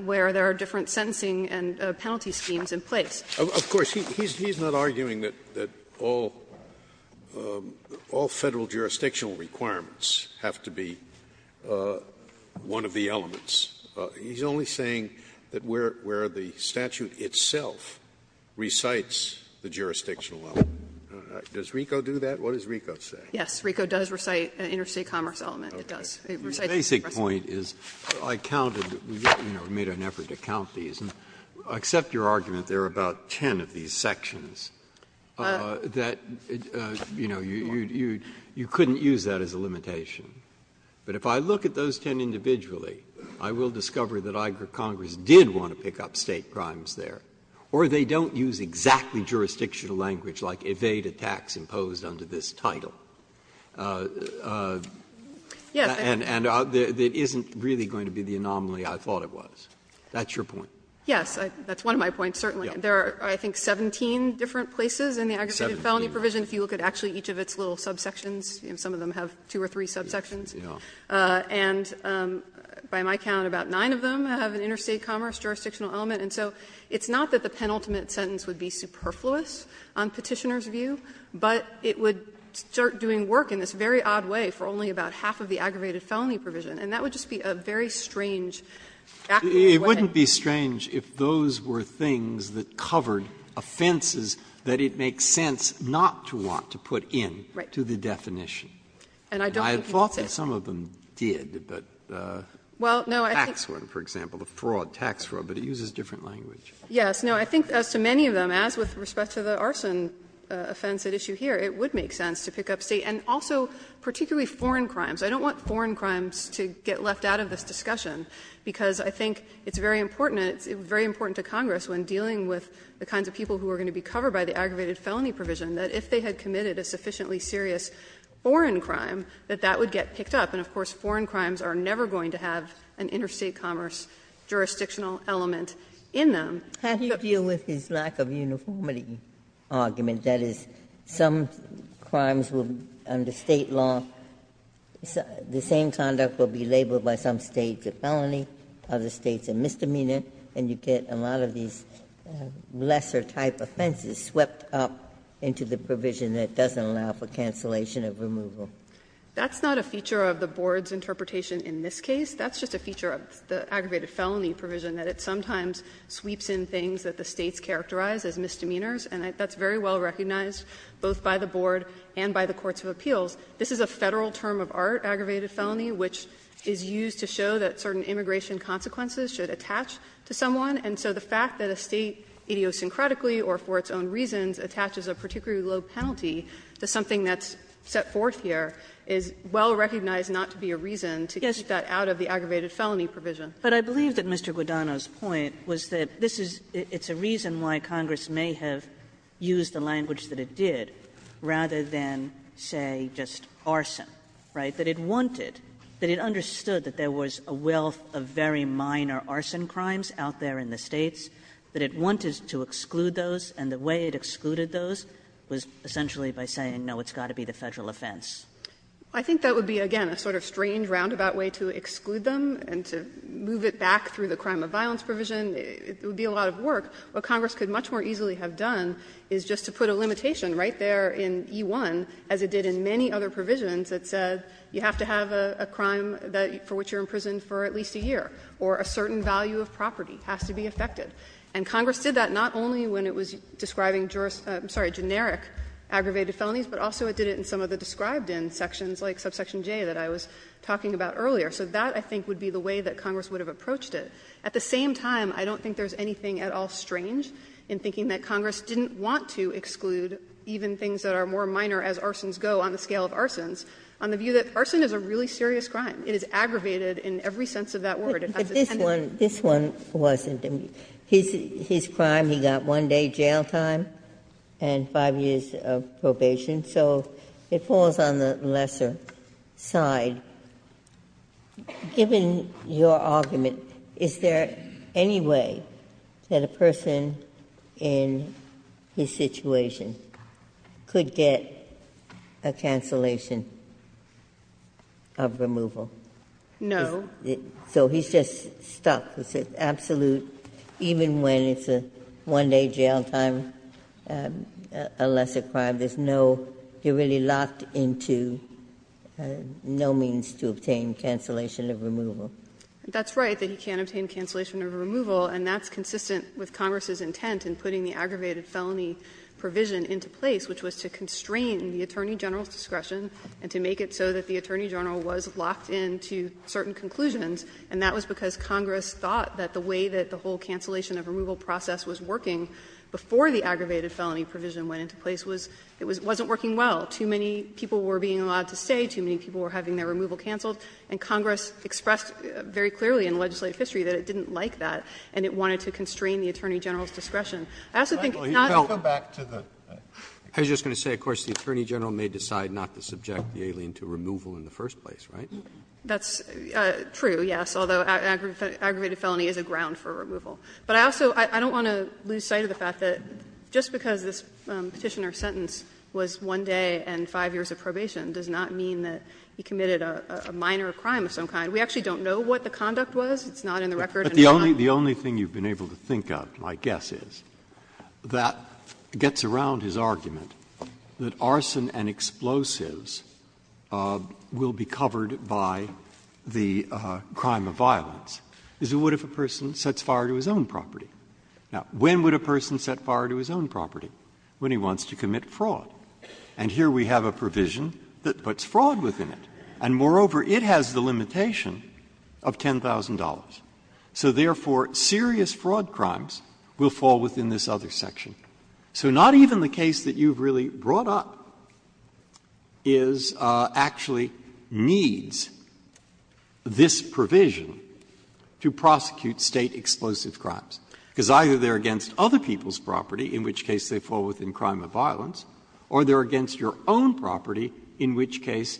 where there are different sentencing and penalty schemes in place. Scalia. Of course, he's not arguing that all Federal jurisdictional requirements have to be one of the elements. He's only saying that where the statute itself recites the jurisdictional element. Does RICO do that? What does RICO say? Yes. RICO does recite an interstate commerce element. It does. It recites the jurisdiction. The basic point is I counted, you know, made an effort to count these. And I accept your argument there are about ten of these sections that, you know, you couldn't use that as a limitation. But if I look at those ten individually, I will discover that Congress did want to pick up state crimes there, or they don't use exactly jurisdictional language like evade attacks imposed under this title. And it isn't really going to be the anomaly I thought it was. That's your point. Yes. That's one of my points, certainly. There are, I think, 17 different places in the aggregated felony provision. If you look at actually each of its little subsections, some of them have two or three subsections. And by my count, about nine of them have an interstate commerce jurisdictional element. And so it's not that the penultimate sentence would be superfluous on Petitioner's view, but it would start doing work in this very odd way for only about half of the aggravated felony provision. And that would just be a very strange, backward way. It wouldn't be strange if those were things that covered offenses that it makes sense not to want to put in to the definition. Right. And I don't think you would say that. And I thought that some of them did, but tax fraud, for example, the fraud tax fraud, but it uses different language. Yes. No, I think as to many of them, as with respect to the arson offense at issue here, it would make sense to pick up State and also particularly foreign crimes. I don't want foreign crimes to get left out of this discussion, because I think it's very important and it's very important to Congress when dealing with the kinds of people who are going to be covered by the aggravated felony provision, that if they had committed a sufficiently serious foreign crime, that that would get picked up. And, of course, foreign crimes are never going to have an interstate commerce jurisdictional element in them. Ginsburg, how do you deal with his lack of uniformity argument? That is, some crimes will, under State law, the same conduct will be labeled by some States a felony, other States a misdemeanor, and you get a lot of these lesser type offenses swept up into the provision that doesn't allow for cancellation of removal. That's not a feature of the Board's interpretation in this case. That's just a feature of the aggravated felony provision, that it sometimes sweeps in things that the States characterize as misdemeanors, and that's very well recognized both by the Board and by the courts of appeals. This is a Federal term of art, aggravated felony, which is used to show that certain immigration consequences should attach to someone. And so the fact that a State idiosyncratically or for its own reasons attaches a particularly low penalty to something that's set forth here is well recognized not to be a reason to get that out of the aggravated felony provision. Kagan. Kagan. But I believe that Mr. Guadagno's point was that this is, it's a reason why Congress may have used the language that it did rather than, say, just arson, right, that it wanted, that it understood that there was a wealth of very minor arson crimes out there in the States, that it wanted to exclude those, and the way it excluded those was essentially by saying, no, it's got to be the Federal offense. I think that would be, again, a sort of strange roundabout way to exclude them and to move it back through the crime of violence provision. It would be a lot of work. What Congress could much more easily have done is just to put a limitation right there in E-1, as it did in many other provisions that said you have to have a crime for which you're imprisoned for at least a year, or a certain value of property has to be affected. And Congress did that not only when it was describing juris — I'm sorry, generic aggravated felonies, but also it did it in some of the described-in sections like subsection J that I was talking about earlier. So that, I think, would be the way that Congress would have approached it. At the same time, I don't think there's anything at all strange in thinking that Congress didn't want to exclude even things that are more minor as arsons go on the scale of arsons on the view that arson is a really serious crime. It is aggravated in every sense of that word. But this one, this one wasn't. His crime, he got one day jail time and five years of probation. So it falls on the lesser side. Given your argument, is there any way that a person in his situation could get a cancellation of removal? No. So he's just stuck, absolute, even when it's a one-day jail time, a lesser crime. There's no — you're really locked into no means to obtain cancellation of removal. That's right, that he can't obtain cancellation of removal, and that's consistent with Congress's intent in putting the aggravated felony provision into place, which was to constrain the attorney general's discretion and to make it so that the attorney general was locked in to certain conclusions, and that was because Congress thought that the way that the whole cancellation of removal process was working before the aggravated felony provision went into place was it wasn't working well. Too many people were being allowed to stay, too many people were having their removal canceled, and Congress expressed very clearly in legislative history that it didn't like that, and it wanted to constrain the attorney general's discretion. I also think it's not the case that it's not the case that it's not the case that it hasn't been regulated in the first place, right? That's true, yes, although aggravated felony is a ground for removal. But I also don't want to lose sight of the fact that just because this Petitioner's sentence was one day and five years of probation does not mean that he committed a minor crime of some kind. We actually don't know what the conduct was. It's not in the record. But the only thing you've been able to think of, my guess is, that gets around his argument that arson and explosives will be covered by the crime of violence is it would if a person sets fire to his own property. Now, when would a person set fire to his own property? When he wants to commit fraud. And here we have a provision that puts fraud within it, and moreover, it has the limitation of $10,000. So therefore, serious fraud crimes will fall within this other section. So not even the case that you've really brought up is actually needs this provision to prosecute State explosive crimes, because either they're against other people's property, in which case they fall within crime of violence, or they're against your own property, in which case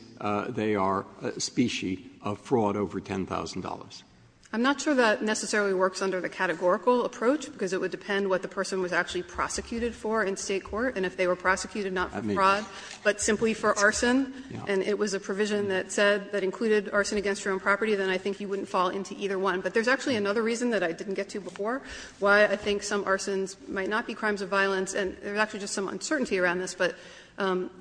they are a species of fraud over $10,000. I'm not sure that necessarily works under the categorical approach, because it would depend what the person was actually prosecuted for in State court, and if they were prosecuted not for fraud, but simply for arson, and it was a provision that said that included arson against your own property, then I think you wouldn't fall into either one. But there's actually another reason that I didn't get to before why I think some arsons might not be crimes of violence, and there's actually just some uncertainty around this, but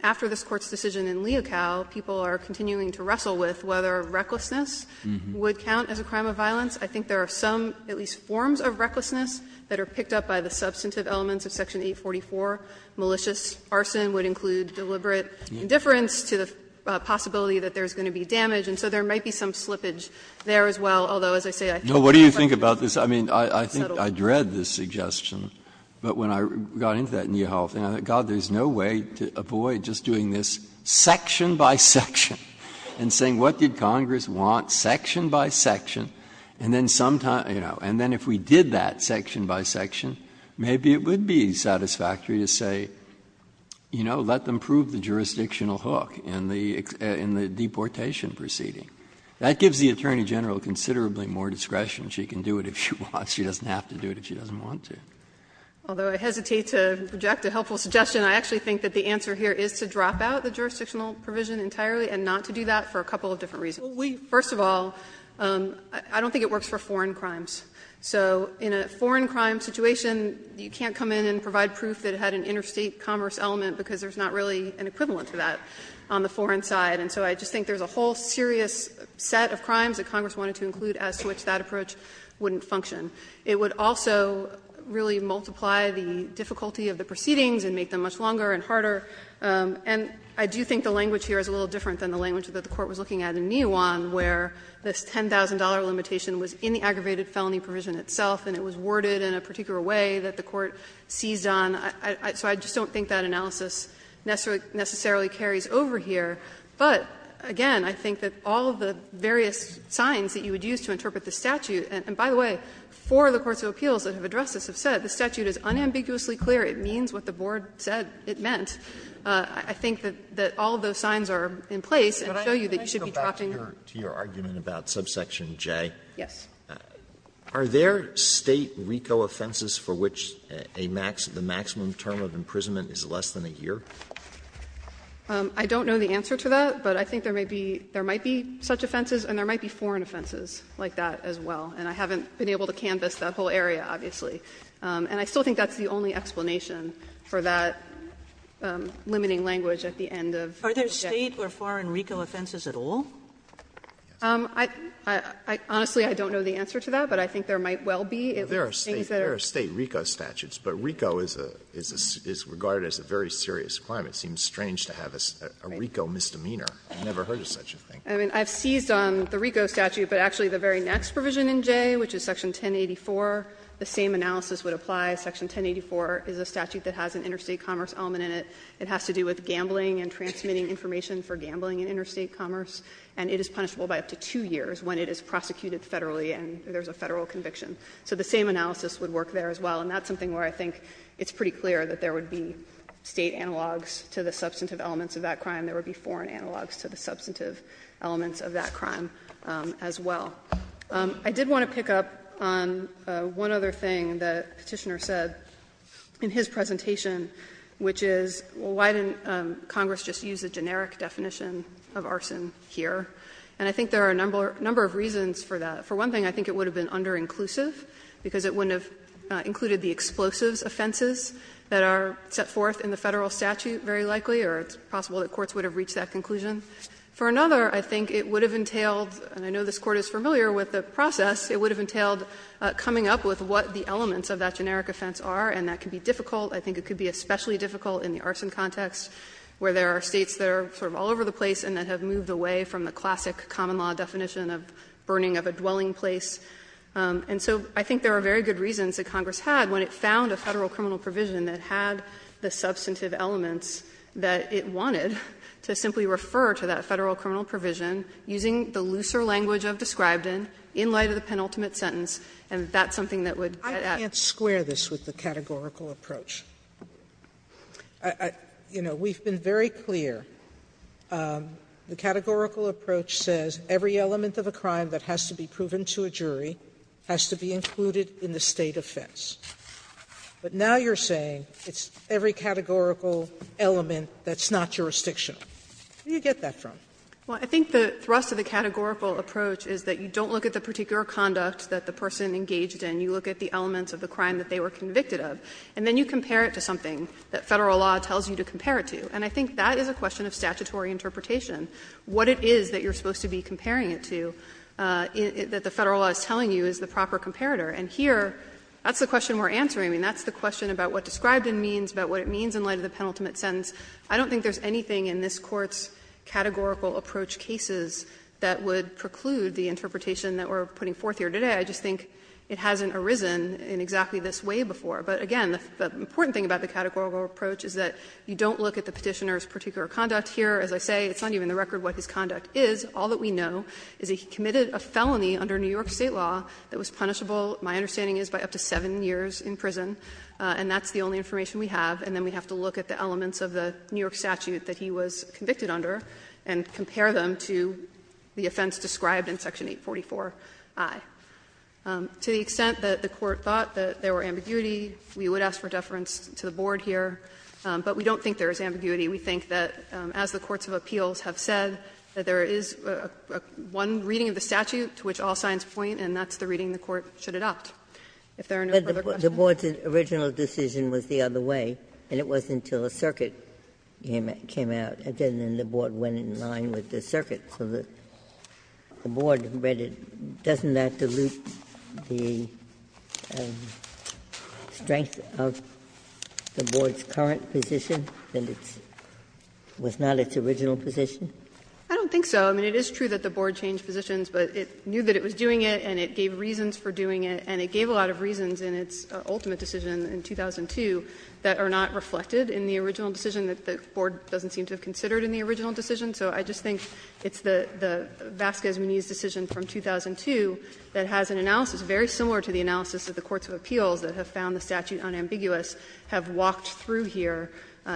after this Court's decision in Leocal, people are continuing to wrestle with whether recklessness would count as a crime of violence. I think there are some, at least forms of recklessness, that are picked up by the substantive elements of Section 844. Malicious arson would include deliberate indifference to the possibility that there is going to be damage, and so there might be some slippage there as well, although as I say, I think the question is settled. Breyer's I think I dread this suggestion, but when I got into that in your health center, God, there's no way to avoid just doing this section by section and saying what did Congress want section by section, and then sometime, you know, and then if we did that section by section, maybe it would be satisfactory to say, you know, let them prove the jurisdictional hook in the deportation proceeding. That gives the Attorney General considerably more discretion. She can do it if she wants. She doesn't have to do it if she doesn't want to. Although I hesitate to reject a helpful suggestion, I actually think that the answer here is to drop out the jurisdictional provision entirely and not to do that for a couple of different reasons. First of all, I don't think it works for foreign crimes. So in a foreign crime situation, you can't come in and provide proof that it had an interstate commerce element because there's not really an equivalent to that on the foreign side. And so I just think there's a whole serious set of crimes that Congress wanted to include as to which that approach wouldn't function. It would also really multiply the difficulty of the proceedings and make them much longer and harder. And I do think the language here is a little different than the language that the Court was looking at in Nijuan, where this $10,000 limitation was in the aggravated felony provision itself and it was worded in a particular way that the Court seized on. So I just don't think that analysis necessarily carries over here. But, again, I think that all of the various signs that you would use to interpret the statute and, by the way, four of the courts of appeals that have addressed this have said the statute is unambiguously clear, it means what the board said it meant, I think that all of those signs are in place and show you that you should be dropping. Alito, back to your argument about subsection J, are there State RICO offenses for which a maximum, the maximum term of imprisonment is less than a year? I don't know the answer to that, but I think there may be, there might be such offenses and there might be foreign offenses like that as well, and I haven't been able to canvass that whole area, obviously, and I still think that's the only explanation for that limiting language at the end of subjection. Sotomayor, are there State or foreign RICO offenses at all? Honestly, I don't know the answer to that, but I think there might well be, if there are things that are. There are State RICO statutes, but RICO is regarded as a very serious crime. It seems strange to have a RICO misdemeanor. I've never heard of such a thing. I mean, I've seized on the RICO statute, but actually the very next provision in J, which is section 1084, the same analysis would apply. Section 1084 is a statute that has an interstate commerce element in it. It has to do with gambling and transmitting information for gambling in interstate commerce, and it is punishable by up to two years when it is prosecuted Federally and there's a Federal conviction. So the same analysis would work there as well, and that's something where I think it's pretty clear that there would be State analogs to the substantive elements of that crime. There would be foreign analogs to the substantive elements of that crime as well. I did want to pick up on one other thing the Petitioner said in his presentation, which is, well, why didn't Congress just use a generic definition of arson here? And I think there are a number of reasons for that. For one thing, I think it would have been underinclusive, because it wouldn't have included the explosives offenses that are set forth in the Federal statute very likely, or it's possible that courts would have reached that conclusion. For another, I think it would have entailed, and I know this Court is familiar with the process, it would have entailed coming up with what the elements of that generic offense are, and that could be difficult. I think it could be especially difficult in the arson context, where there are States that are sort of all over the place and that have moved away from the classic common law definition of burning of a dwelling place. And so I think there are very good reasons that Congress had, when it found a Federal criminal provision that had the substantive elements that it wanted, to simply refer to that Federal criminal provision using the looser language I've described in, in light of the penultimate sentence, and that's something that would add to that. Sotomayor, I can't square this with the categorical approach. You know, we've been very clear. The categorical approach says every element of a crime that has to be proven to a jury has to be included in the State offense. But now you're saying it's every categorical element that's not jurisdictional. Where do you get that from? Well, I think the thrust of the categorical approach is that you don't look at the particular conduct that the person engaged in. You look at the elements of the crime that they were convicted of, and then you compare it to something that Federal law tells you to compare it to. And I think that is a question of statutory interpretation. What it is that you're supposed to be comparing it to, that the Federal law is telling you, is the proper comparator. And here, that's the question we're answering. I mean, that's the question about what described in means, about what it means in light of the penultimate sentence. I don't think there's anything in this Court's categorical approach cases that would preclude the interpretation that we're putting forth here today. I just think it hasn't arisen in exactly this way before. But again, the important thing about the categorical approach is that you don't look at the Petitioner's particular conduct here. As I say, it's not even the record what his conduct is. All that we know is he committed a felony under New York State law that was punishable my understanding is by up to 7 years in prison. And that's the only information we have. And then we have to look at the elements of the New York statute that he was convicted under and compare them to the offense described in Section 844i. To the extent that the Court thought that there were ambiguity, we would ask for deference to the Board here. But we don't think there is ambiguity. We think that as the courts of appeals have said, that there is one reading of the statute to which all signs point, and that's the reading the Court should adopt, if there are no further questions. Ginsburg's original decision was the other way, and it wasn't until a circuit came out. Again, then the Board went in line with the circuit, so the Board read it. Doesn't that dilute the strength of the Board's current position, that it was not its original position? I don't think so. I mean, it is true that the Board changed positions, but it knew that it was doing it and it gave reasons for doing it, and it gave a lot of reasons in its ultimate decision in 2002 that are not reflected in the original decision, that the Board doesn't seem to have considered in the original decision. So I just think it's the Vasquez-Muniz decision from 2002 that has an analysis very similar to the analysis that the courts of appeals that have found the statute unambiguous have walked through here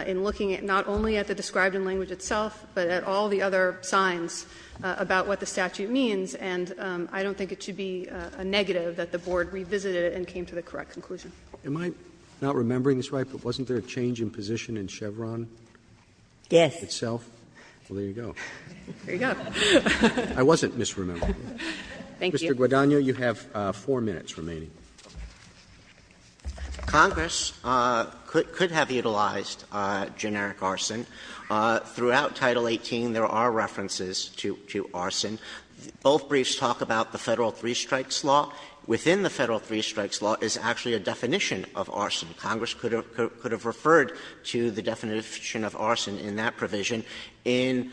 in looking at not only at the described in language itself, but at all the other signs about what the statute means. And I don't think it should be a negative that the Board revisited it and came to the correct conclusion. Am I not remembering this right, but wasn't there a change in position in Chevron itself? Yes. Well, there you go. There you go. I wasn't misremembering. Thank you. Mr. Guadagno, you have 4 minutes remaining. Congress could have utilized generic arson. Throughout Title 18 there are references to arson. Both briefs talk about the Federal Three Strikes Law. Within the Federal Three Strikes Law is actually a definition of arson. Congress could have referred to the definition of arson in that provision. In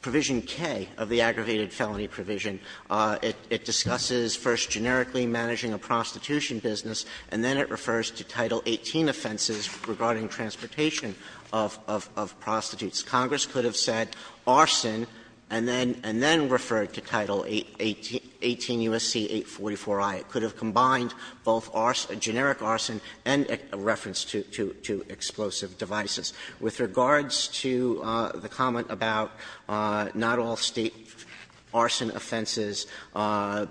Provision K of the aggravated felony provision, it discusses first generically managing a prostitution business, and then it refers to Title 18 offenses regarding transportation of prostitutes. Congress could have said arson and then referred to Title 18 U.S.C. 844i. It could have combined both generic arson and a reference to explosive devices. With regards to the comment about not all State arson offenses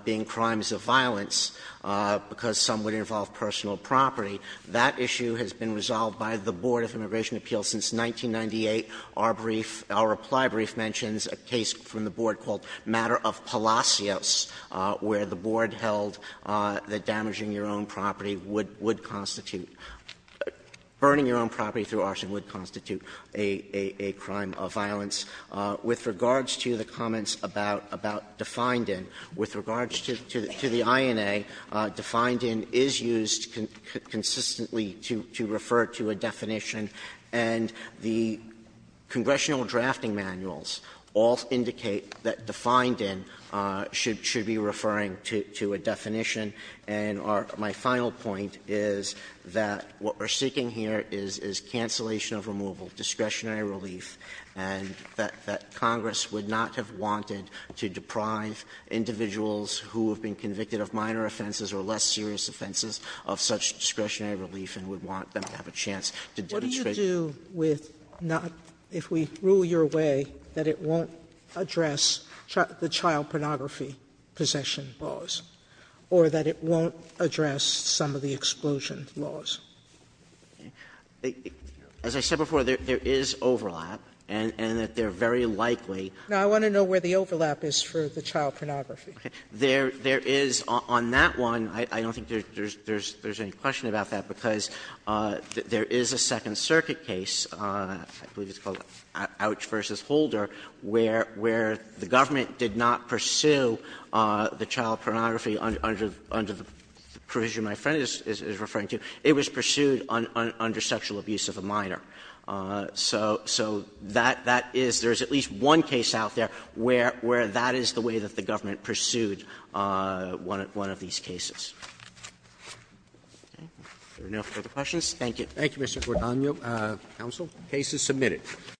being crimes of violence, because some would involve personal property, that issue has been resolved by the Board of Immigration Appeals since 1998. Our brief, our reply brief, mentions a case from the Board called Matter of Palacios, where the Board held that damaging your own property would constitute, burning your own property through arson would constitute a crime of violence. With regards to the comments about Defined In, with regards to the INA, Defined In is used consistently to refer to a definition, and the congressional drafting manuals all indicate that Defined In should be referring to a definition. And my final point is that what we're seeking here is cancellation of removal, discretionary relief, and that Congress would not have wanted to deprive individuals who have been convicted of minor offenses or less serious offenses of such discretionary relief and would want them to have a chance to demonstrate. Sotomayor What do you do with not – if we rule your way that it won't address the child pornography possession laws, or that it won't address some of the explosion laws? Sotomayor As I said before, there is overlap, and that they're very likely— Sotomayor Now, I want to know where the overlap is for the child pornography. Sotomayor There is, on that one, I don't think there's any question about that, because there is a Second Circuit case, I believe it's called Ouch v. Holder, where the government did not pursue the child pornography under the provision my friend is referring to. It was pursued under sexual abuse of a minor. So that is – there is at least one case out there where that is the way that the government pursued one of these cases. If there are no further questions, thank you. Roberts Thank you, Mr. Guadagno. Counsel. The case is submitted.